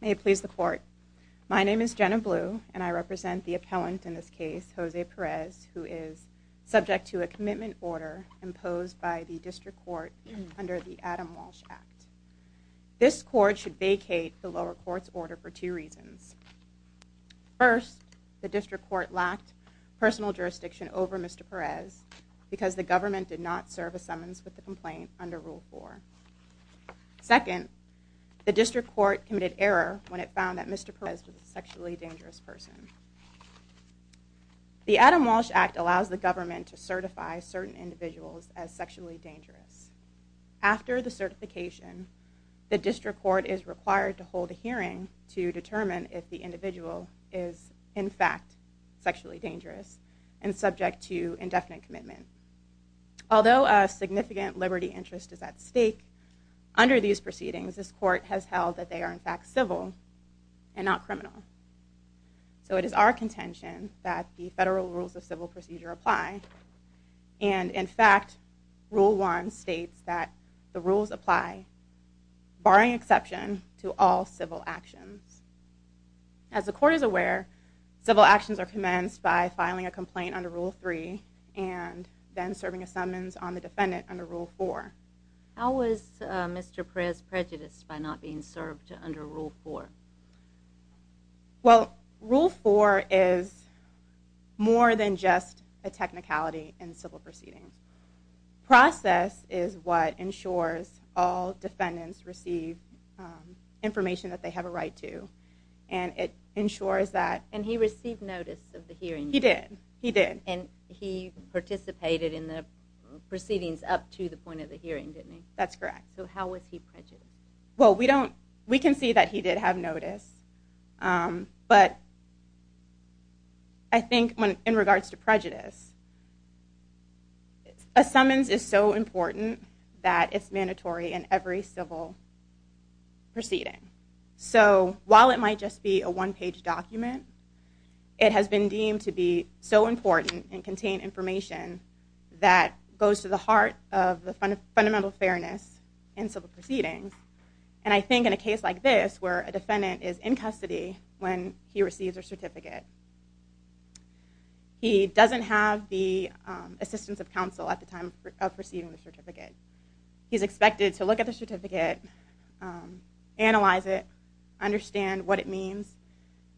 May it please the court. My name is Jenna Blue, and I represent the appellant in this case, Jose Perez, who is subject to a commitment order imposed by the District Court under the Adam Walsh Act. This court should vacate the lower court's order for two reasons. First, the District Court lacked personal jurisdiction over Mr. Perez because the government did not serve a summons with the complaint under Rule 4. Second, the District Court committed error when it found that Mr. Perez was a sexually dangerous person. The Adam Walsh Act allows the government to certify certain individuals as sexually dangerous. After the certification, the District Court is required to hold a hearing to determine if the individual is in fact sexually dangerous and subject to indefinite commitment. Although a significant liberty interest is at stake, under these proceedings this court has held that they are in fact civil and not criminal. So it is our contention that the Federal Rules of Civil Procedure apply, and in fact Rule 1 states that the rules apply, barring exception, to all civil actions. As the court is aware, civil actions are commenced by filing a complaint under Rule 3 and then serving a summons on the defendant under Rule 4. How was Mr. Perez prejudiced by not being served under Rule 4? Well, Rule 4 is more than just a technicality in civil proceedings. Process is what ensures all defendants receive information that they have a right to, and it ensures that... And he received notice of the hearing. He did. He did. He participated in the proceedings up to the point of the hearing, didn't he? That's correct. So how was he prejudiced? Well, we can see that he did have notice, but I think in regards to prejudice, a summons is so important that it's mandatory in every civil proceeding. So while it might just be a one-page document, it has been deemed to be so important and contain information that goes to the heart of the fundamental fairness in civil proceedings. And I think in a case like this where a defendant is in custody when he receives a certificate, he doesn't have the assistance of counsel at the time of receiving the certificate. He's expected to look at the certificate, analyze it, understand what it means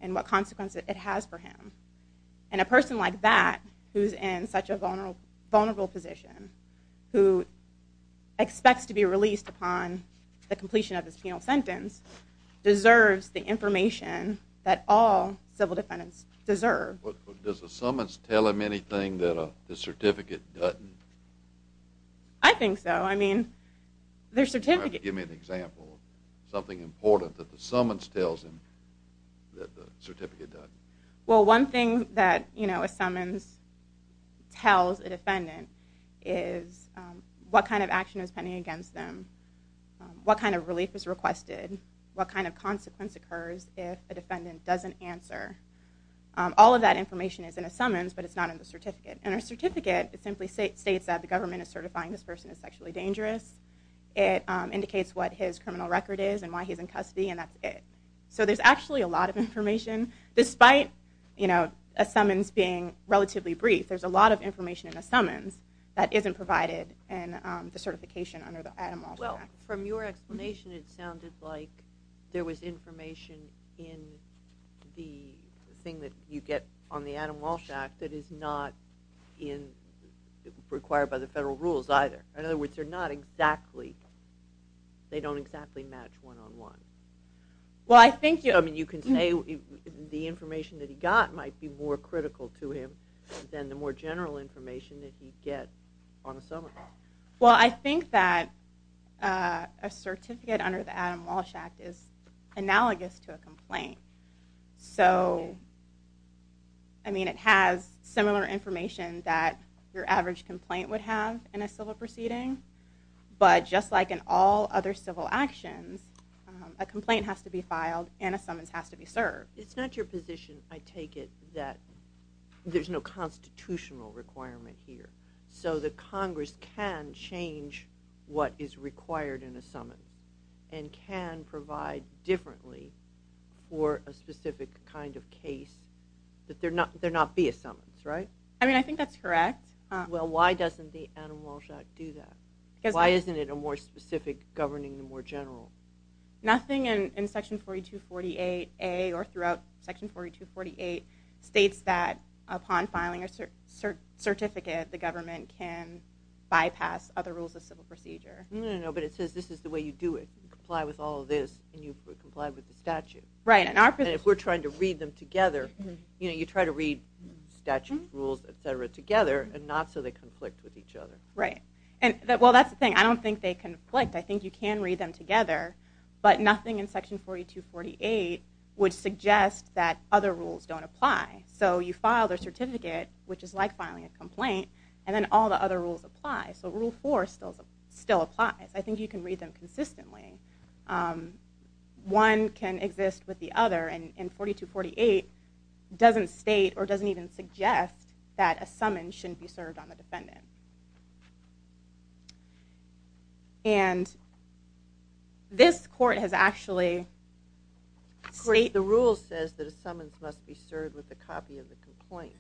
and what consequence it has for him. And a person like that, who's in such a vulnerable position, who expects to be released upon the completion of his penal sentence, deserves the information that all civil defendants deserve. Does the summons tell him anything that the certificate doesn't? I think so. I mean, the certificate... Give me an example of something important that the summons tells him that the certificate doesn't. Well, one thing that a summons tells a defendant is what kind of action is pending against them, what kind of relief is requested, what kind of consequence occurs if a defendant doesn't answer. All of that information is in a summons, but it's not in the certificate. And a certificate simply states that the government is certifying this person as sexually dangerous. It indicates what his criminal record is and why he's in custody, and that's it. So there's actually a lot of information. Despite a summons being relatively brief, there's a lot of information in a summons that isn't provided in the certification under the Adam Walsh Act. Well, from your explanation, it sounded like there was information in the thing that you get on the Adam Walsh Act that is not required by the federal rules either. In other words, they're not exactly... they don't exactly match one-on-one. Well, I think... I mean, you can say the information that he got might be more critical to him than the more general information that he'd get on a summons. Well, I think that a certificate under the Adam Walsh Act is analogous to a complaint. So, I mean, it has similar information that your average complaint would have in a civil proceeding. But just like in all other civil actions, a complaint has to be filed and a summons has to be served. It's not your position, I take it, that there's no constitutional requirement here. So the Congress can change what is required in a summons and can provide differently for a specific kind of case that there not be a summons, right? I mean, I think that's correct. Well, why doesn't the Adam Walsh Act do that? Because... Why isn't it a more specific governing the more general? Nothing in Section 4248A or throughout Section 4248 states that upon filing a certificate the government can bypass other rules of civil procedure. No, no, no, but it says this is the way you do it. You comply with all of this and you comply with the statute. Right, and our position... And if we're trying to read them together, you know, you try to read statutes, rules, etc. together and not so they conflict with each other. Right. Well, that's the thing. I don't think they conflict. I think you can read them together, but nothing in Section 4248 would suggest that other rules don't apply. So you file their certificate, which is like filing a complaint, and then all the other rules apply. So Rule 4 still applies. I think you can read them consistently. One can exist with the other, and 4248 doesn't state or doesn't even suggest that a summons shouldn't be served on the defendant. And this court has actually... The rule says that a summons must be served with a copy of the complaint.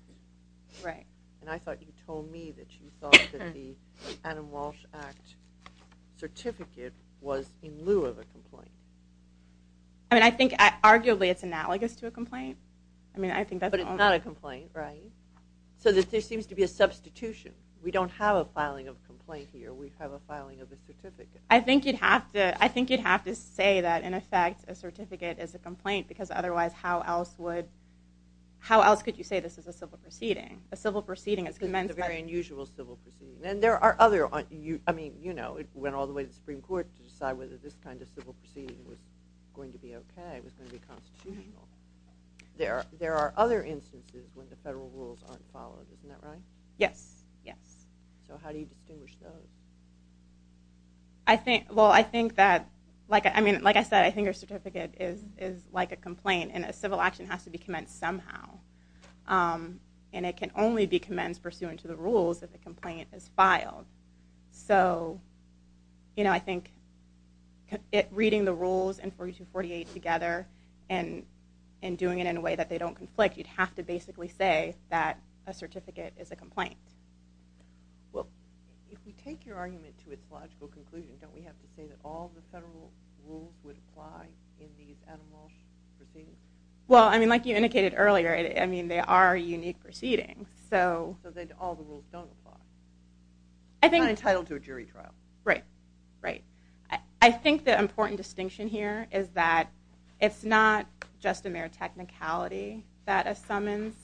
Right. And I thought you told me that you thought that the Adam Walsh Act certificate was in lieu of a complaint. I mean, I think arguably it's analogous to a complaint. I mean, I think that's... But it's not a complaint, right? So there seems to be a substitution. We don't have a filing of a complaint here. We have a filing of a certificate. I think you'd have to say that, in effect, a certificate is a complaint, because otherwise how else would... How else could you say this is a civil proceeding? A civil proceeding is commenced by... It's a very unusual civil proceeding. And there are other... I mean, you know, it went all the way to the Supreme Court to decide whether this kind of civil proceeding was going to be okay, was going to be constitutional. There are other instances when the federal rules aren't followed. Isn't that right? Yes, yes. So how do you distinguish those? Well, I think that... I mean, like I said, I think a certificate is like a complaint, and a civil action has to be commenced somehow. And it can only be commenced pursuant to the rules that the complaint is filed. So, you know, I think reading the rules in 4248 together and doing it in a way that they don't conflict, you'd have to basically say that a certificate is a complaint. Well, if we take your argument to its logical conclusion, don't we have to say that all the federal rules would apply in these anomalous proceedings? Well, I mean, like you indicated earlier, I mean, they are unique proceedings, so... So then all the rules don't apply. I think... You're not entitled to a jury trial. Right, right. I think the important distinction here is that it's not just a mere technicality that a summons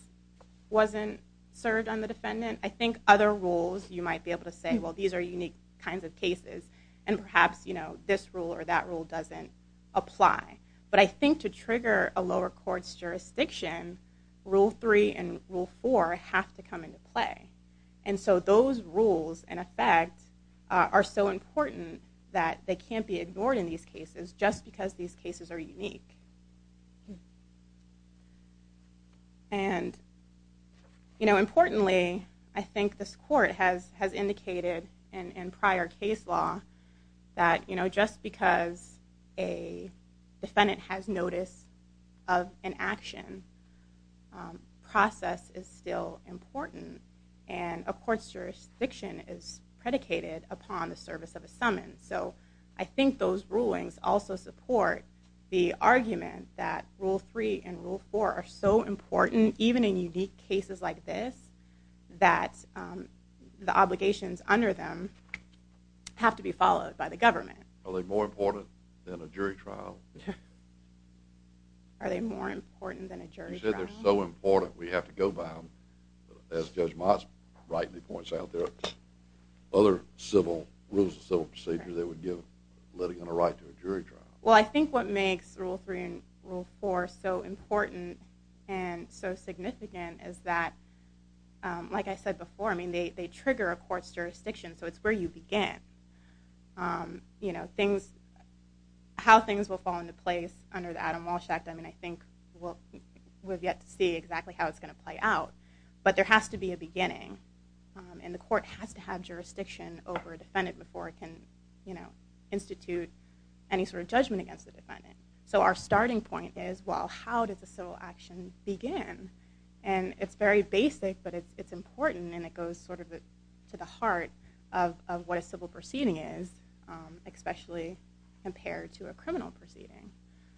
wasn't served on the defendant. I think other rules, you might be able to say, well, these are unique kinds of cases, and perhaps, you know, this rule or that rule doesn't apply. But I think to trigger a lower court's jurisdiction, Rule 3 and Rule 4 have to come into play. And so those rules, in effect, are so important that they can't be ignored in these cases just because these cases are unique. And, you know, importantly, I think this court has indicated in prior case law that, you know, just because a defendant has notice of an action, process is still important, and a court's jurisdiction is predicated upon the service of a summons. So I think those rulings also support the argument that Rule 3 and Rule 4 are so important, even in unique cases like this, that the obligations under them have to be followed by the government. Are they more important than a jury trial? Are they more important than a jury trial? You said they're so important we have to go by them. As Judge Moss rightly points out, there are other civil rules and civil procedures that would give a litigant a right to a jury trial. Well, I think what makes Rule 3 and Rule 4 so important and so significant is that, like I said before, I mean, they trigger a court's jurisdiction, so it's where you begin. You know, how things will fall into place under the Adam Walsh Act, I mean, I think we've yet to see exactly how it's going to play out. But there has to be a beginning, and the court has to have jurisdiction over a defendant before it can institute any sort of judgment against the defendant. So our starting point is, well, how does a civil action begin? And it's very basic, but it's important, and it goes sort of to the heart of what a civil proceeding is, especially compared to a criminal proceeding.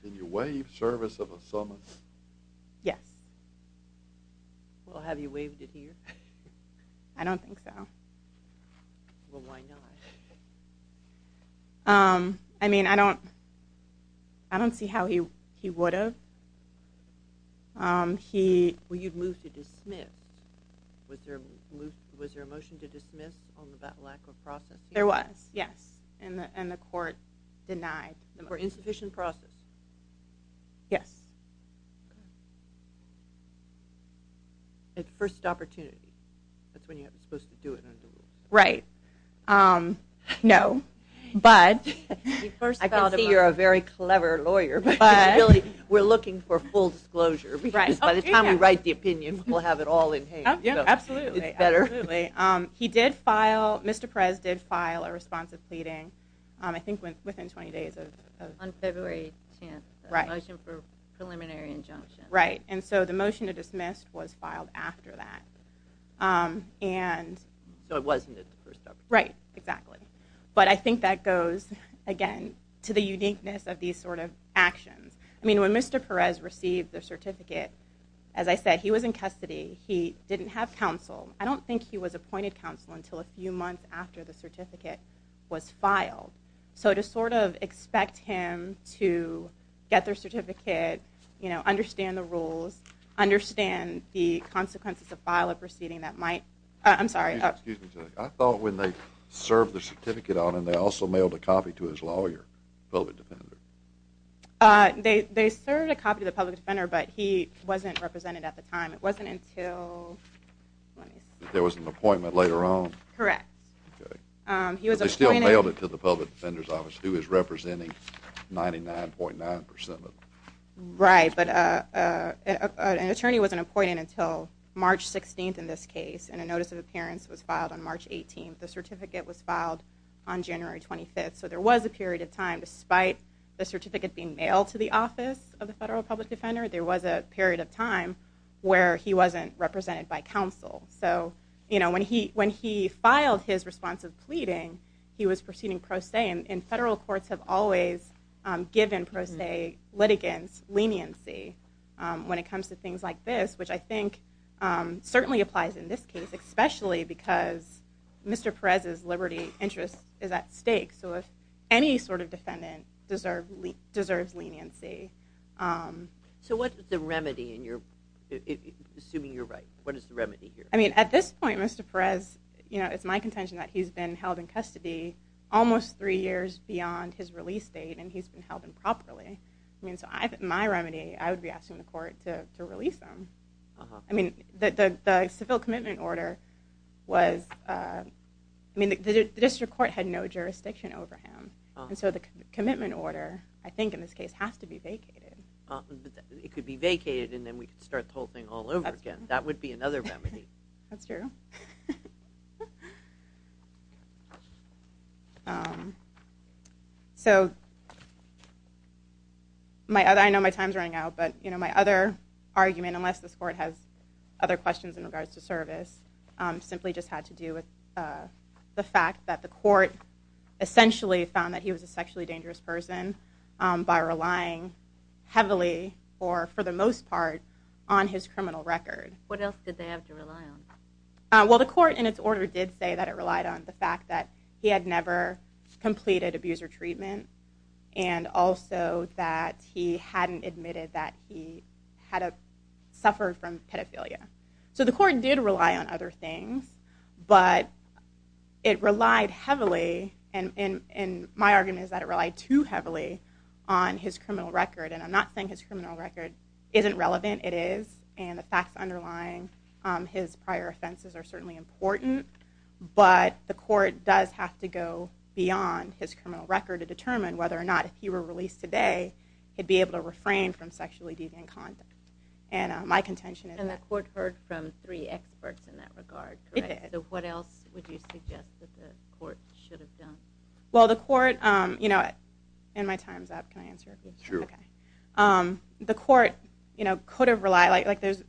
Can you waive service of a summons? Yes. Well, have you waived it here? I don't think so. Well, why not? I mean, I don't see how he would have. Well, you'd move to dismiss. Was there a motion to dismiss on that lack of process? There was, yes, and the court denied the motion. For insufficient process? Yes. At first opportunity. That's when you're supposed to do it under the rules. Right. No, but... I can see you're a very clever lawyer, but we're looking for full disclosure. By the time we write the opinion, we'll have it all in haste. Absolutely. It's better. Absolutely. He did file, Mr. Perez did file a responsive pleading, I think within 20 days of... On February 10th. Right. A motion for preliminary injunction. Right, and so the motion to dismiss was filed after that. So it wasn't at the first opportunity. Right, exactly. But I think that goes, again, to the uniqueness of these sort of actions. I mean, when Mr. Perez received the certificate, as I said, he was in custody. He didn't have counsel. I don't think he was appointed counsel until a few months after the certificate was filed. So to sort of expect him to get their certificate, you know, understand the rules, understand the consequences of file a proceeding that might... I'm sorry. Excuse me. I thought when they served the certificate on him, they also mailed a copy to his lawyer, public defender. They served a copy to the public defender, but he wasn't represented at the time. It wasn't until... There was an appointment later on. Correct. Okay. But they still mailed it to the public defender's office, who is representing 99.9%. Right, but an attorney wasn't appointed until March 16th in this case, and a notice of appearance was filed on March 18th. The certificate was filed on January 25th. So there was a period of time, despite the certificate being mailed to the office of the federal public defender, there was a period of time where he wasn't represented by counsel. So, you know, when he filed his response of pleading, he was proceeding pro se, and federal courts have always given pro se litigants leniency when it comes to things like this, which I think certainly applies in this case, especially because Mr. Perez's liberty interest is at stake. So if any sort of defendant deserves leniency... So what's the remedy, assuming you're right? What is the remedy here? I mean, at this point, Mr. Perez, it's my contention that he's been held in custody almost three years beyond his release date, and he's been held improperly. So my remedy, I would be asking the court to release him. I mean, the civil commitment order was, I mean, the district court had no jurisdiction over him, and so the commitment order, I think in this case, has to be vacated. It could be vacated, and then we could start the whole thing all over again. That would be another remedy. That's true. So I know my time's running out, but my other argument, unless this court has other questions in regards to service, simply just had to do with the fact that the court essentially found that he was a sexually dangerous person by relying heavily, or for the most part, on his criminal record. What else did they have to rely on? Well, the court in its order did say that it relied on the fact that he had never completed abuser treatment and also that he hadn't admitted that he had suffered from pedophilia. So the court did rely on other things, but it relied heavily, and my argument is that it relied too heavily on his criminal record, and I'm not saying his criminal record isn't relevant. It is, and the facts underlying his prior offenses are certainly important, but the court does have to go beyond his criminal record to determine whether or not, if he were released today, he'd be able to refrain from sexually deviant conduct, and my contention is that... And the court heard from three experts in that regard, correct? It did. So what else would you suggest that the court should have done? Well, the court, and my time's up. Can I answer? Sure. The court could have relied, like there's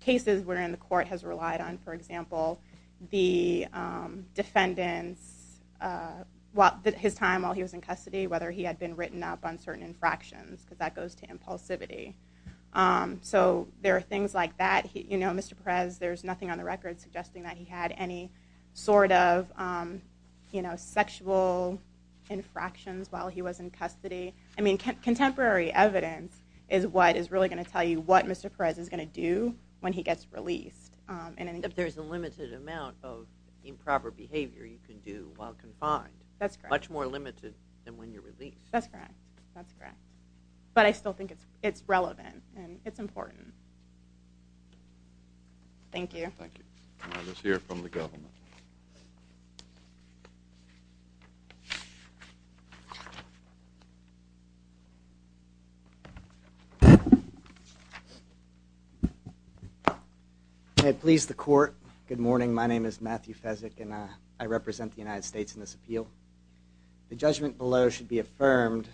cases wherein the court has relied on, for example, the defendant's time while he was in custody, whether he had been written up on certain infractions, because that goes to impulsivity. So there are things like that. You know, Mr. Perez, there's nothing on the record suggesting that he had any sort of sexual infractions while he was in custody. I mean, contemporary evidence is what is really going to tell you what Mr. Perez is going to do when he gets released. If there's a limited amount of improper behavior you can do while confined. That's correct. Much more limited than when you're released. That's correct. That's correct. But I still think it's relevant and it's important. Thank you. Thank you. Let's hear from the government. I please the court. Good morning. My name is Matthew Fezzik, and I represent the United States in this appeal. The judgment below should be affirmed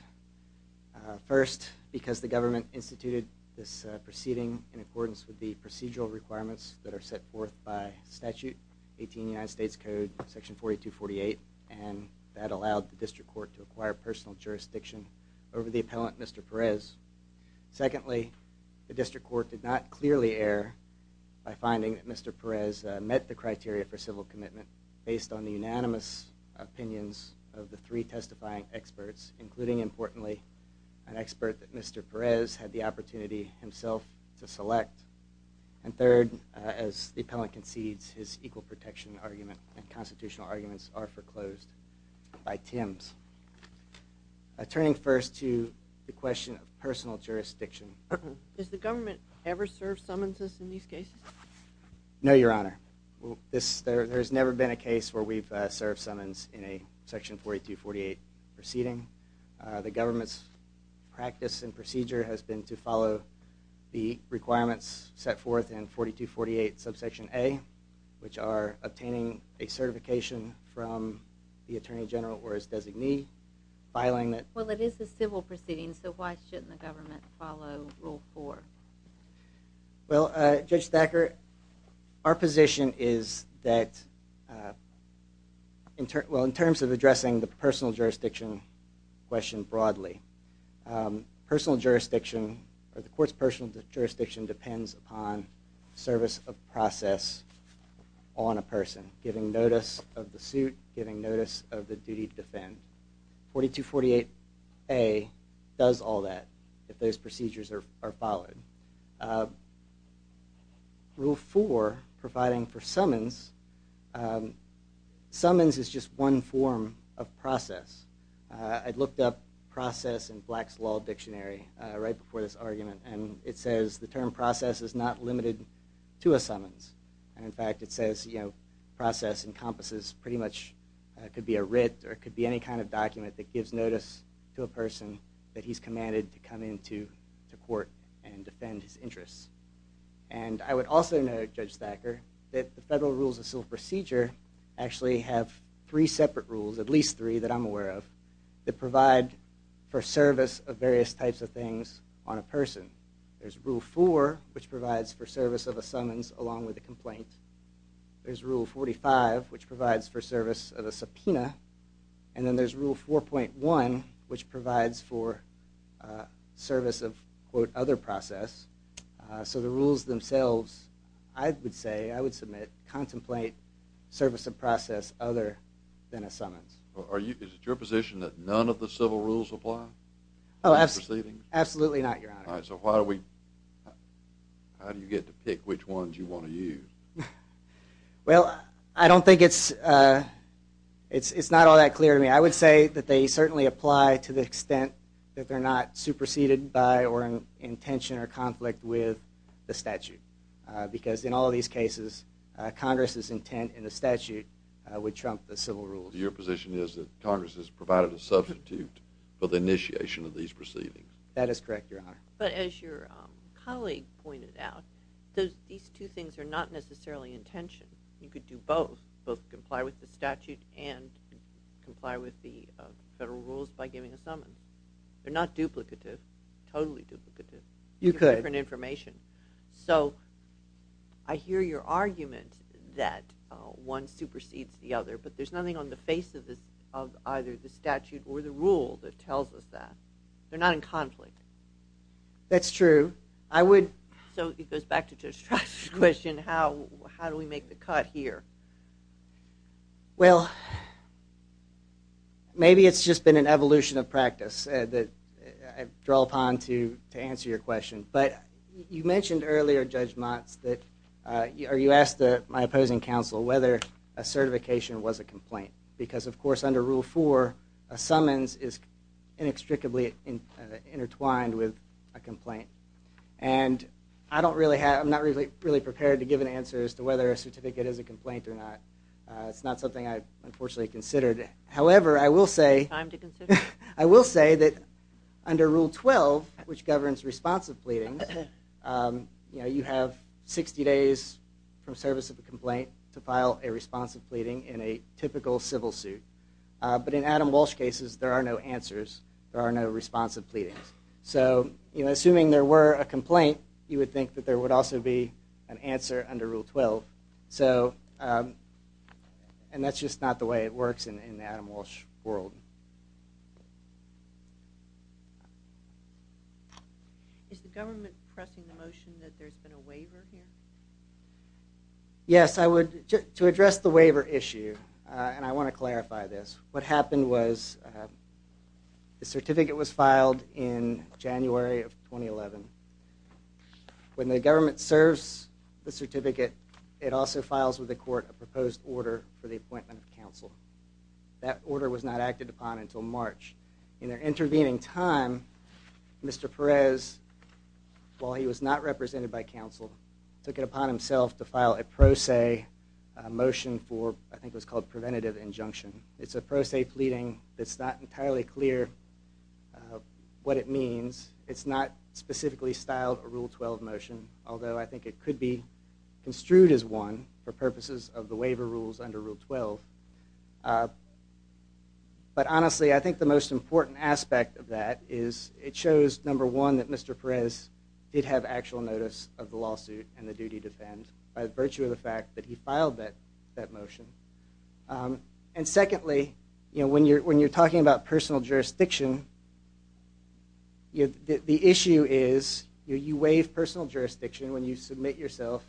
first because the government instituted this proceeding in accordance with the procedural requirements that are set forth by statute, 18 of the United States Code, section 4248, and that allowed the district court to acquire personal jurisdiction over the appellant, Mr. Perez. Secondly, the district court did not clearly err by finding that Mr. Perez met the criteria for civil commitment based on the unanimous opinions of the three testifying experts, including, importantly, an expert that Mr. Perez had the opportunity himself to select. And third, as the appellant concedes, his equal protection argument and constitutional arguments are foreclosed by Tim's. Turning first to the question of personal jurisdiction. Does the government ever serve summonses in these cases? No, Your Honor. There has never been a case where we've served summons in a section 4248 proceeding. The government's practice and procedure has been to follow the requirements set forth in 4248, subsection A, which are obtaining a certification from the attorney general or his designee, filing that- Well, it is a civil proceeding, so why shouldn't the government follow Rule 4? Well, Judge Thacker, our position is that- well, in terms of addressing the personal jurisdiction question broadly, the court's personal jurisdiction depends upon service of process on a person, giving notice of the suit, giving notice of the duty to defend. 4248A does all that if those procedures are followed. Rule 4, providing for summons, summons is just one form of process. I looked up process in Black's Law Dictionary right before this argument, and it says the term process is not limited to a summons. In fact, it says process encompasses pretty much- it could be a writ or it could be any kind of document that gives notice to a person that he's commanded to come into court and defend his interests. And I would also note, Judge Thacker, that the federal rules of civil procedure actually have three separate rules, at least three that I'm aware of, that provide for service of various types of things on a person. There's Rule 4, which provides for service of a summons along with a complaint. There's Rule 45, which provides for service of a subpoena. And then there's Rule 4.1, which provides for service of, quote, other process. So the rules themselves, I would say, I would submit, contemplate service of process other than a summons. Is it your position that none of the civil rules apply? Absolutely not, Your Honor. So how do you get to pick which ones you want to use? Well, I don't think it's- it's not all that clear to me. I would say that they certainly apply to the extent that they're not superseded by or in tension or conflict with the statute. Because in all these cases, Congress's intent in the statute would trump the civil rules. So your position is that Congress has provided a substitute for the initiation of these proceedings? That is correct, Your Honor. But as your colleague pointed out, these two things are not necessarily in tension. You could do both, both comply with the statute and comply with the federal rules by giving a summons. They're not duplicative, totally duplicative. You could. Different information. So I hear your argument that one supersedes the other, but there's nothing on the face of either the statute or the rule that tells us that. They're not in conflict. That's true. I would- So it goes back to Joe's question, how do we make the cut here? Well, maybe it's just been an evolution of practice that I've drawn upon to answer your question. But you mentioned earlier, Judge Motz, that you asked my opposing counsel whether a certification was a complaint. Because, of course, under Rule 4, a summons is inextricably intertwined with a complaint. And I'm not really prepared to give an answer as to whether a certificate is a complaint or not. It's not something I've unfortunately considered. However, I will say that under Rule 12, which governs responsive pleadings, you have 60 days from service of a complaint to file a responsive pleading in a typical civil suit. But in Adam Walsh cases, there are no answers. There are no responsive pleadings. So assuming there were a complaint, you would think that there would also be an answer under Rule 12. And that's just not the way it works in the Adam Walsh world. Is the government pressing the motion that there's been a waiver here? Yes. To address the waiver issue, and I want to clarify this, what happened was the certificate was filed in January of 2011. When the government serves the certificate, it also files with the court a proposed order for the appointment of counsel. That order was not acted upon until March. In their intervening time, Mr. Perez, while he was not represented by counsel, took it upon himself to file a pro se motion for, I think it was called preventative injunction. It's a pro se pleading that's not entirely clear what it means. It's not specifically styled a Rule 12 motion, although I think it could be construed as one for purposes of the waiver rules under Rule 12. But honestly, I think the most important aspect of that is it shows, number one, that Mr. Perez did have actual notice of the lawsuit and the duty to defend, by virtue of the fact that he filed that motion. And secondly, when you're talking about personal jurisdiction, the issue is you waive personal jurisdiction when you submit yourself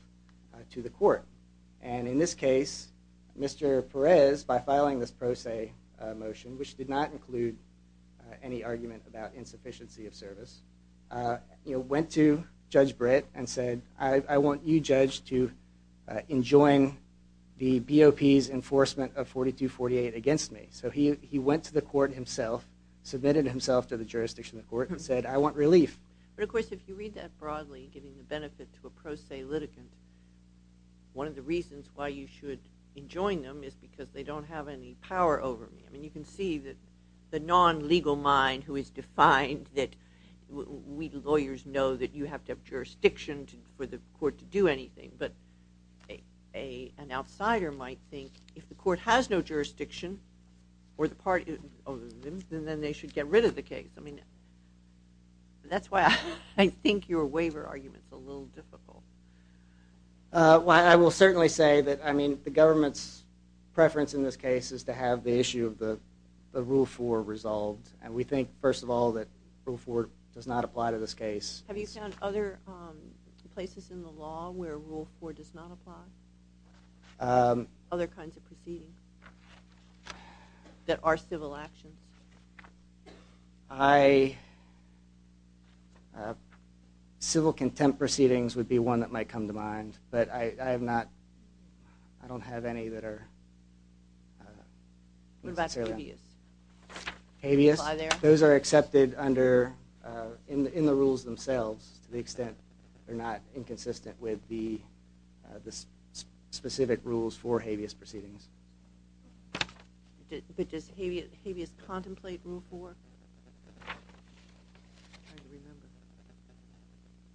to the court. And in this case, Mr. Perez, by filing this pro se motion, which did not include any argument about insufficiency of service, went to Judge Britt and said, I want you, Judge, to enjoin the BOP's enforcement of 4248 against me. So he went to the court himself, submitted himself to the jurisdiction of the court, and said, I want relief. But of course, if you read that broadly, giving the benefit to a pro se litigant, one of the reasons why you should enjoin them is because they don't have any power over me. I mean, you can see that the non-legal mind who is defined that we lawyers know that you have to have jurisdiction for the court to do anything. But an outsider might think, if the court has no jurisdiction over them, then they should get rid of the case. I mean, that's why I think your waiver argument's a little difficult. Well, I will certainly say that, I mean, the government's preference in this case is to have the issue of the Rule 4 resolved. And we think, first of all, that Rule 4 does not apply to this case. Have you found other places in the law where Rule 4 does not apply? Other kinds of proceedings that are civil actions? Civil contempt proceedings would be one that might come to mind. But I have not, I don't have any that are... What about habeas? Habeas? Those are accepted under, in the rules themselves, to the extent they're not inconsistent with the specific rules for habeas proceedings. But does habeas contemplate Rule 4? I'm trying to remember.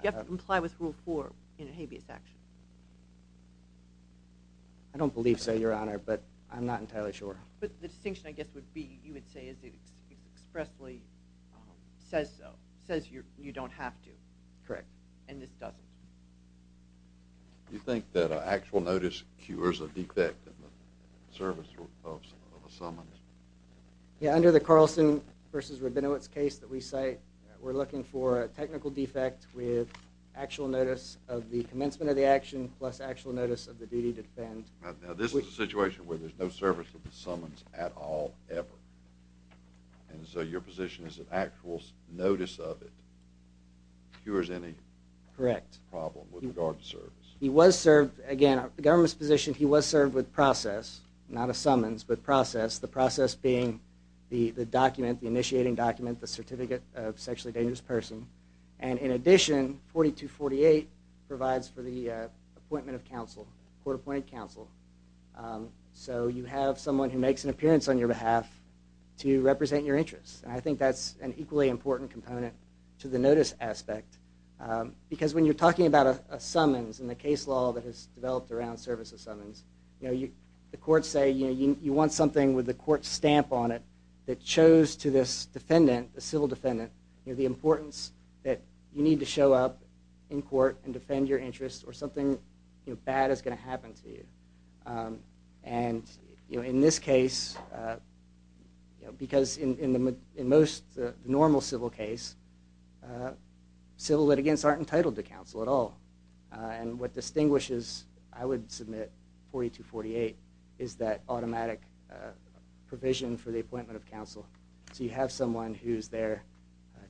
You have to comply with Rule 4 in a habeas action. I don't believe so, Your Honor, but I'm not entirely sure. But the distinction, I guess, would be, you would say, is it expressly says so, says you don't have to. Correct. And this doesn't. Do you think that an actual notice cures a defect in the service of a summons? Yeah, under the Carlson v. Rabinowitz case that we cite, we're looking for a technical defect with actual notice of the commencement of the action plus actual notice of the duty to defend. Now, this is a situation where there's no service of the summons at all, ever. And so your position is that actual notice of it cures any... Correct. ...problem with regard to service. He was served, again, the government's position, he was served with process, not a summons, but process, the process being the document, the initiating document, the certificate of sexually dangerous person. And in addition, 4248 provides for the appointment of counsel, court-appointed counsel. So you have someone who makes an appearance on your behalf to represent your interests. And I think that's an equally important component to the notice aspect because when you're talking about a summons and the case law that has developed around service of summons, the courts say you want something with a court stamp on it that shows to this defendant, the civil defendant, the importance that you need to show up in court and defend your interests or something bad is going to happen to you. And in this case, because in most normal civil case, civil litigants aren't entitled to counsel at all. And what distinguishes, I would submit, 4248 is that automatic provision for the appointment of counsel. So you have someone who's there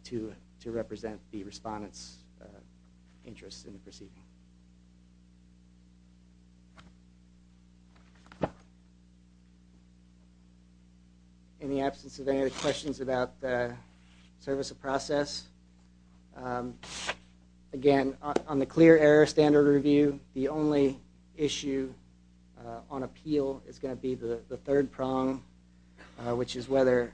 to represent the respondent's interests in the proceeding. In the absence of any other questions about the service of process, again, on the clear error standard review, the only issue on appeal is going to be the third prong, which is whether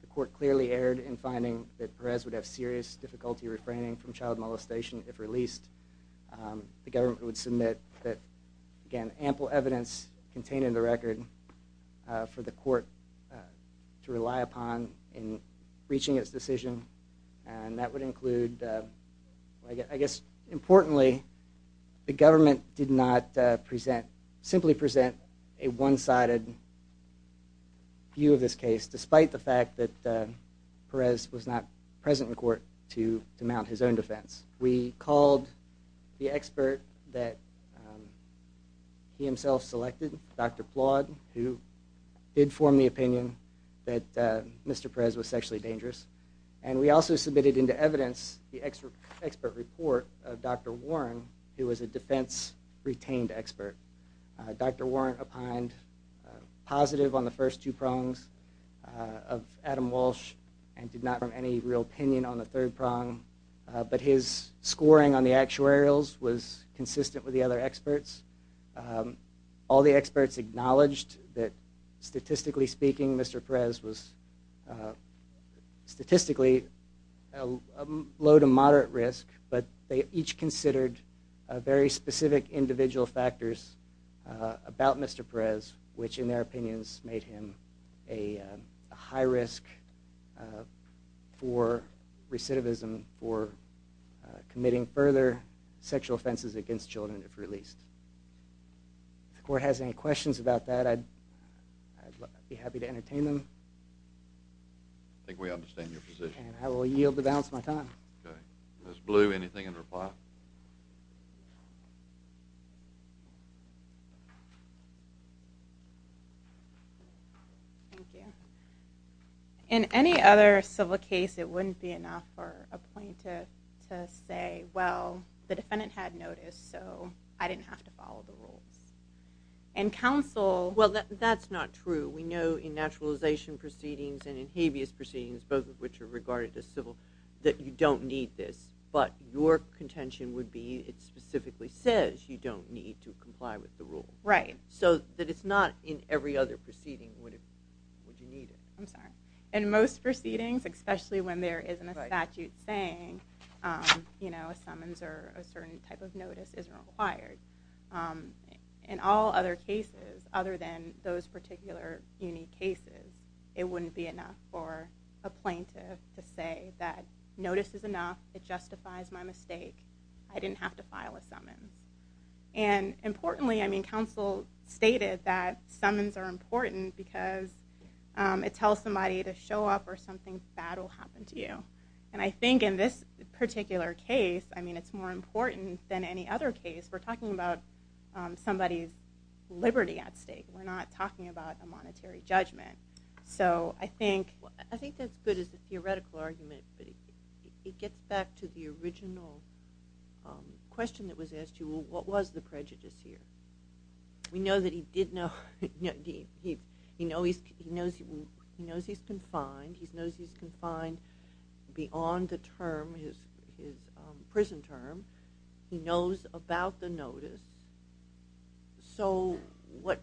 the court clearly erred in finding that Perez would have serious difficulty refraining from child molestation if released. The government would submit that, again, ample evidence contained in the record for the court to rely upon in reaching its decision and that would include, I guess importantly, the government did not simply present a one-sided view of this case despite the fact that Perez was not present in court to mount his own defense. We called the expert that he himself selected, Dr. Plodd, who did form the opinion that Mr. Perez was sexually dangerous and we also submitted into evidence the expert report of Dr. Warren, who was a defense retained expert. Dr. Warren opined positive on the first two prongs of Adam Walsh and did not have any real opinion on the third prong, but his scoring on the actuarials was consistent with the other experts. All the experts acknowledged that statistically speaking, Mr. Perez was statistically low to moderate risk, but they each considered very specific individual factors about Mr. Perez, which in their opinions made him a high risk for recidivism, for committing further sexual offenses against children if released. If the court has any questions about that, I'd be happy to entertain them. I think we understand your position. And I will yield the balance of my time. Ms. Blue, anything in reply? Thank you. In any other civil case, it wouldn't be enough for a plaintiff to say, well, the defendant had notice, so I didn't have to follow the rules. In counsel... Well, that's not true. We know in naturalization proceedings and in habeas proceedings, both of which are regarded as civil, that you don't need this, but your contention would be it specifically says you don't need to comply with the rule. Right. So that it's not in every other proceeding would you need it. I'm sorry. In most proceedings, especially when there isn't a statute saying a summons or a certain type of notice is required, in all other cases other than those particular unique cases, it wouldn't be enough for a plaintiff to say that notice is enough, it justifies my mistake, I didn't have to file a summons. And importantly, I mean, counsel stated that summons are important because it tells somebody to show up or something bad will happen to you. And I think in this particular case, I mean, it's more important than any other case. We're talking about somebody's liberty at stake. We're not talking about a monetary judgment. So I think... I think that's good as a theoretical argument, but it gets back to the original question that was asked to you, what was the prejudice here? We know that he did know, he knows he's confined, he knows he's confined beyond the term, his prison term. He knows about the notice. So what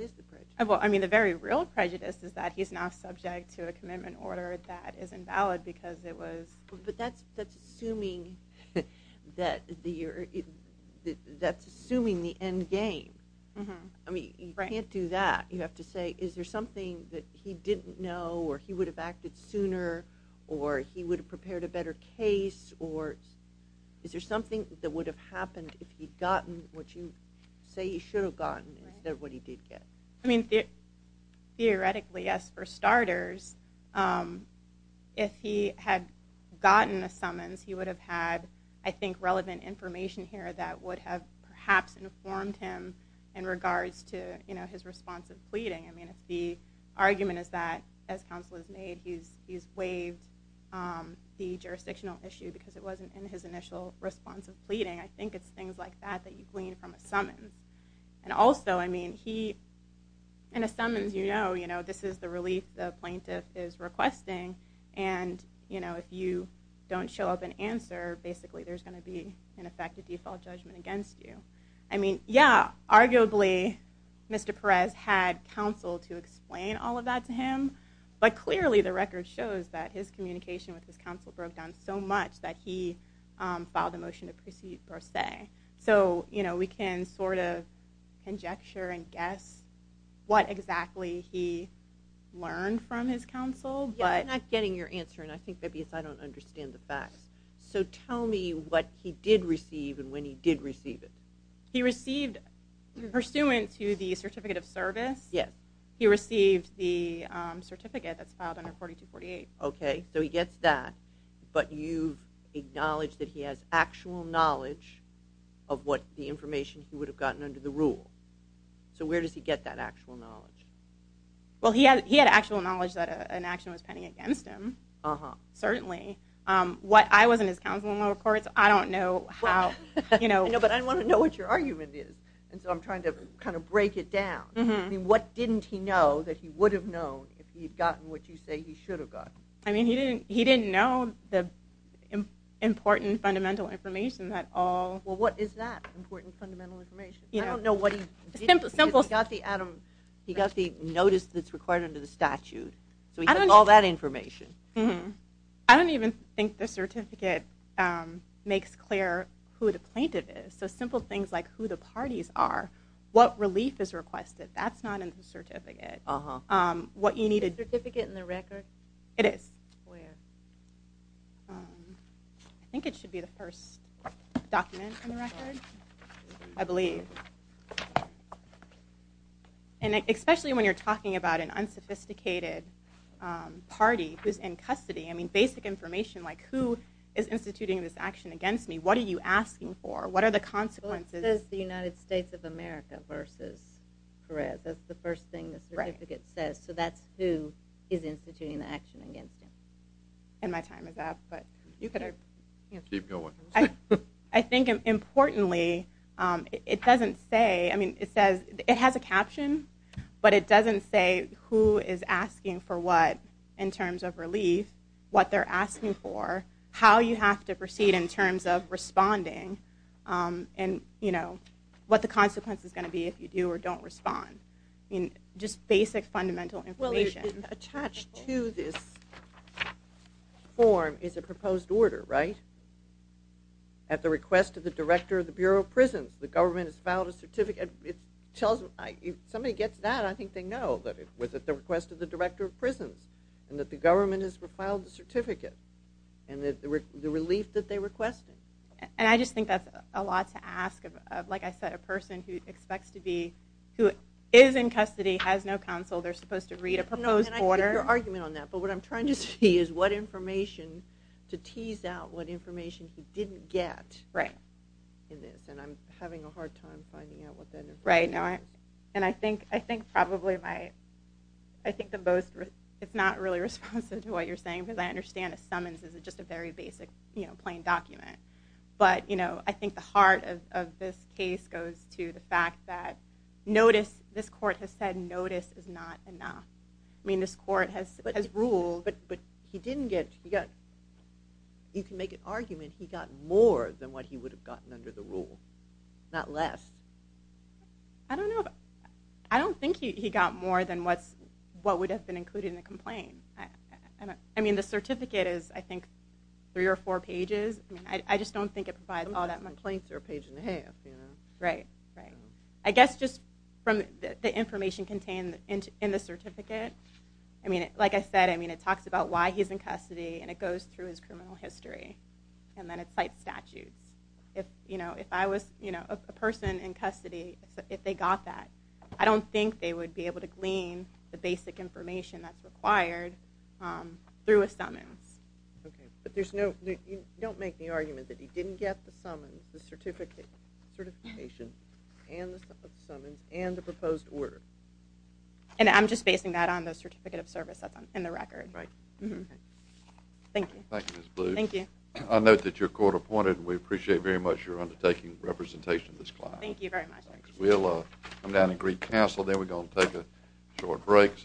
is the prejudice? Well, I mean, the very real prejudice is that he's now subject to a commitment order that is invalid because it was... But that's assuming the end game. I mean, you can't do that. You have to say, is there something that he didn't know or he would have acted sooner or he would have prepared a better case or is there something that would have happened if he'd gotten what you say he should have gotten instead of what he did get? I mean, theoretically, yes, for starters. If he had gotten a summons, he would have had, I think, relevant information here that would have perhaps informed him in regards to his response of pleading. I mean, if the argument is that, as counsel has made, he's waived the jurisdictional issue because it wasn't in his initial response of pleading, I think it's things like that that you glean from a summons. And also, I mean, in a summons you know this is the relief the plaintiff is requesting and if you don't show up and answer, basically there's going to be, in effect, a default judgment against you. I mean, yeah, arguably Mr. Perez had counsel to explain all of that to him, but clearly the record shows that his communication with his counsel broke down so much that he filed a motion to proceed per se. So, you know, we can sort of conjecture and guess what exactly he learned from his counsel. Yeah, I'm not getting your answer, and I think that's because I don't understand the facts. So tell me what he did receive and when he did receive it. He received, pursuant to the certificate of service, he received the certificate that's filed under 4248. Okay, so he gets that, but you acknowledge that he has actual knowledge of what the information he would have gotten under the rule. So where does he get that actual knowledge? Well, he had actual knowledge that an action was pending against him, certainly. What I was in his counsel in lower courts, I don't know how, you know. But I want to know what your argument is, and so I'm trying to kind of break it down. What didn't he know that he would have known if he had gotten what you say he should have gotten? I mean, he didn't know the important fundamental information at all. Well, what is that important fundamental information? I don't know what he did. He got the notice that's required under the statute, so he has all that information. I don't even think the certificate makes clear who the plaintiff is. So simple things like who the parties are, what relief is requested, that's not in the certificate. Is the certificate in the record? It is. Where? I think it should be the first document in the record, I believe. And especially when you're talking about an unsophisticated party who's in custody, I mean, basic information like who is instituting this action against me, what are you asking for, what are the consequences? It says the United States of America versus Perez. That's the first thing the certificate says. So that's who is instituting the action against him. And my time is up, but you could keep going. I think importantly, it doesn't say, I mean, it says it has a caption, but it doesn't say who is asking for what in terms of relief, what they're asking for, how you have to proceed in terms of responding, and, you know, what the consequence is going to be if you do or don't respond. I mean, just basic fundamental information. Well, attached to this form is a proposed order, right? At the request of the director of the Bureau of Prisons, the government has filed a certificate. If somebody gets that, I think they know that it was at the request of the director of prisons and that the government has filed the certificate and the relief that they requested. And I just think that's a lot to ask of, like I said, a person who expects to be, who is in custody, has no counsel, they're supposed to read a proposed order. And I get your argument on that, but what I'm trying to see is what information to tease out, what information he didn't get in this. And I'm having a hard time finding out what that information is. Right, and I think probably my, I think the most, it's not really responsive to what you're saying, because I understand a summons is just a very basic, you know, plain document. But, you know, I think the heart of this case goes to the fact that notice, this court has said notice is not enough. I mean, this court has ruled. I mean, he got more than what he would have gotten under the rule, not less. I don't know, I don't think he got more than what would have been included in the complaint. I mean, the certificate is, I think, three or four pages. I just don't think it provides all that much. Complaints are a page and a half, you know. Right, right. I guess just from the information contained in the certificate, I mean, like I said, I mean, it talks about why he's in custody, and it goes through his criminal history, and then it cites statutes. If, you know, if I was, you know, a person in custody, if they got that, I don't think they would be able to glean the basic information that's required through a summons. Okay, but there's no, you don't make the argument that he didn't get the summons, the certification, and the summons, and the proposed order. And I'm just basing that on the certificate of service that's in the record. Right. Thank you. Thank you, Ms. Blue. Thank you. I note that you're court-appointed. We appreciate very much your undertaking representation of this client. Thank you very much. We'll come down and greet counsel. Then we're going to take a short break.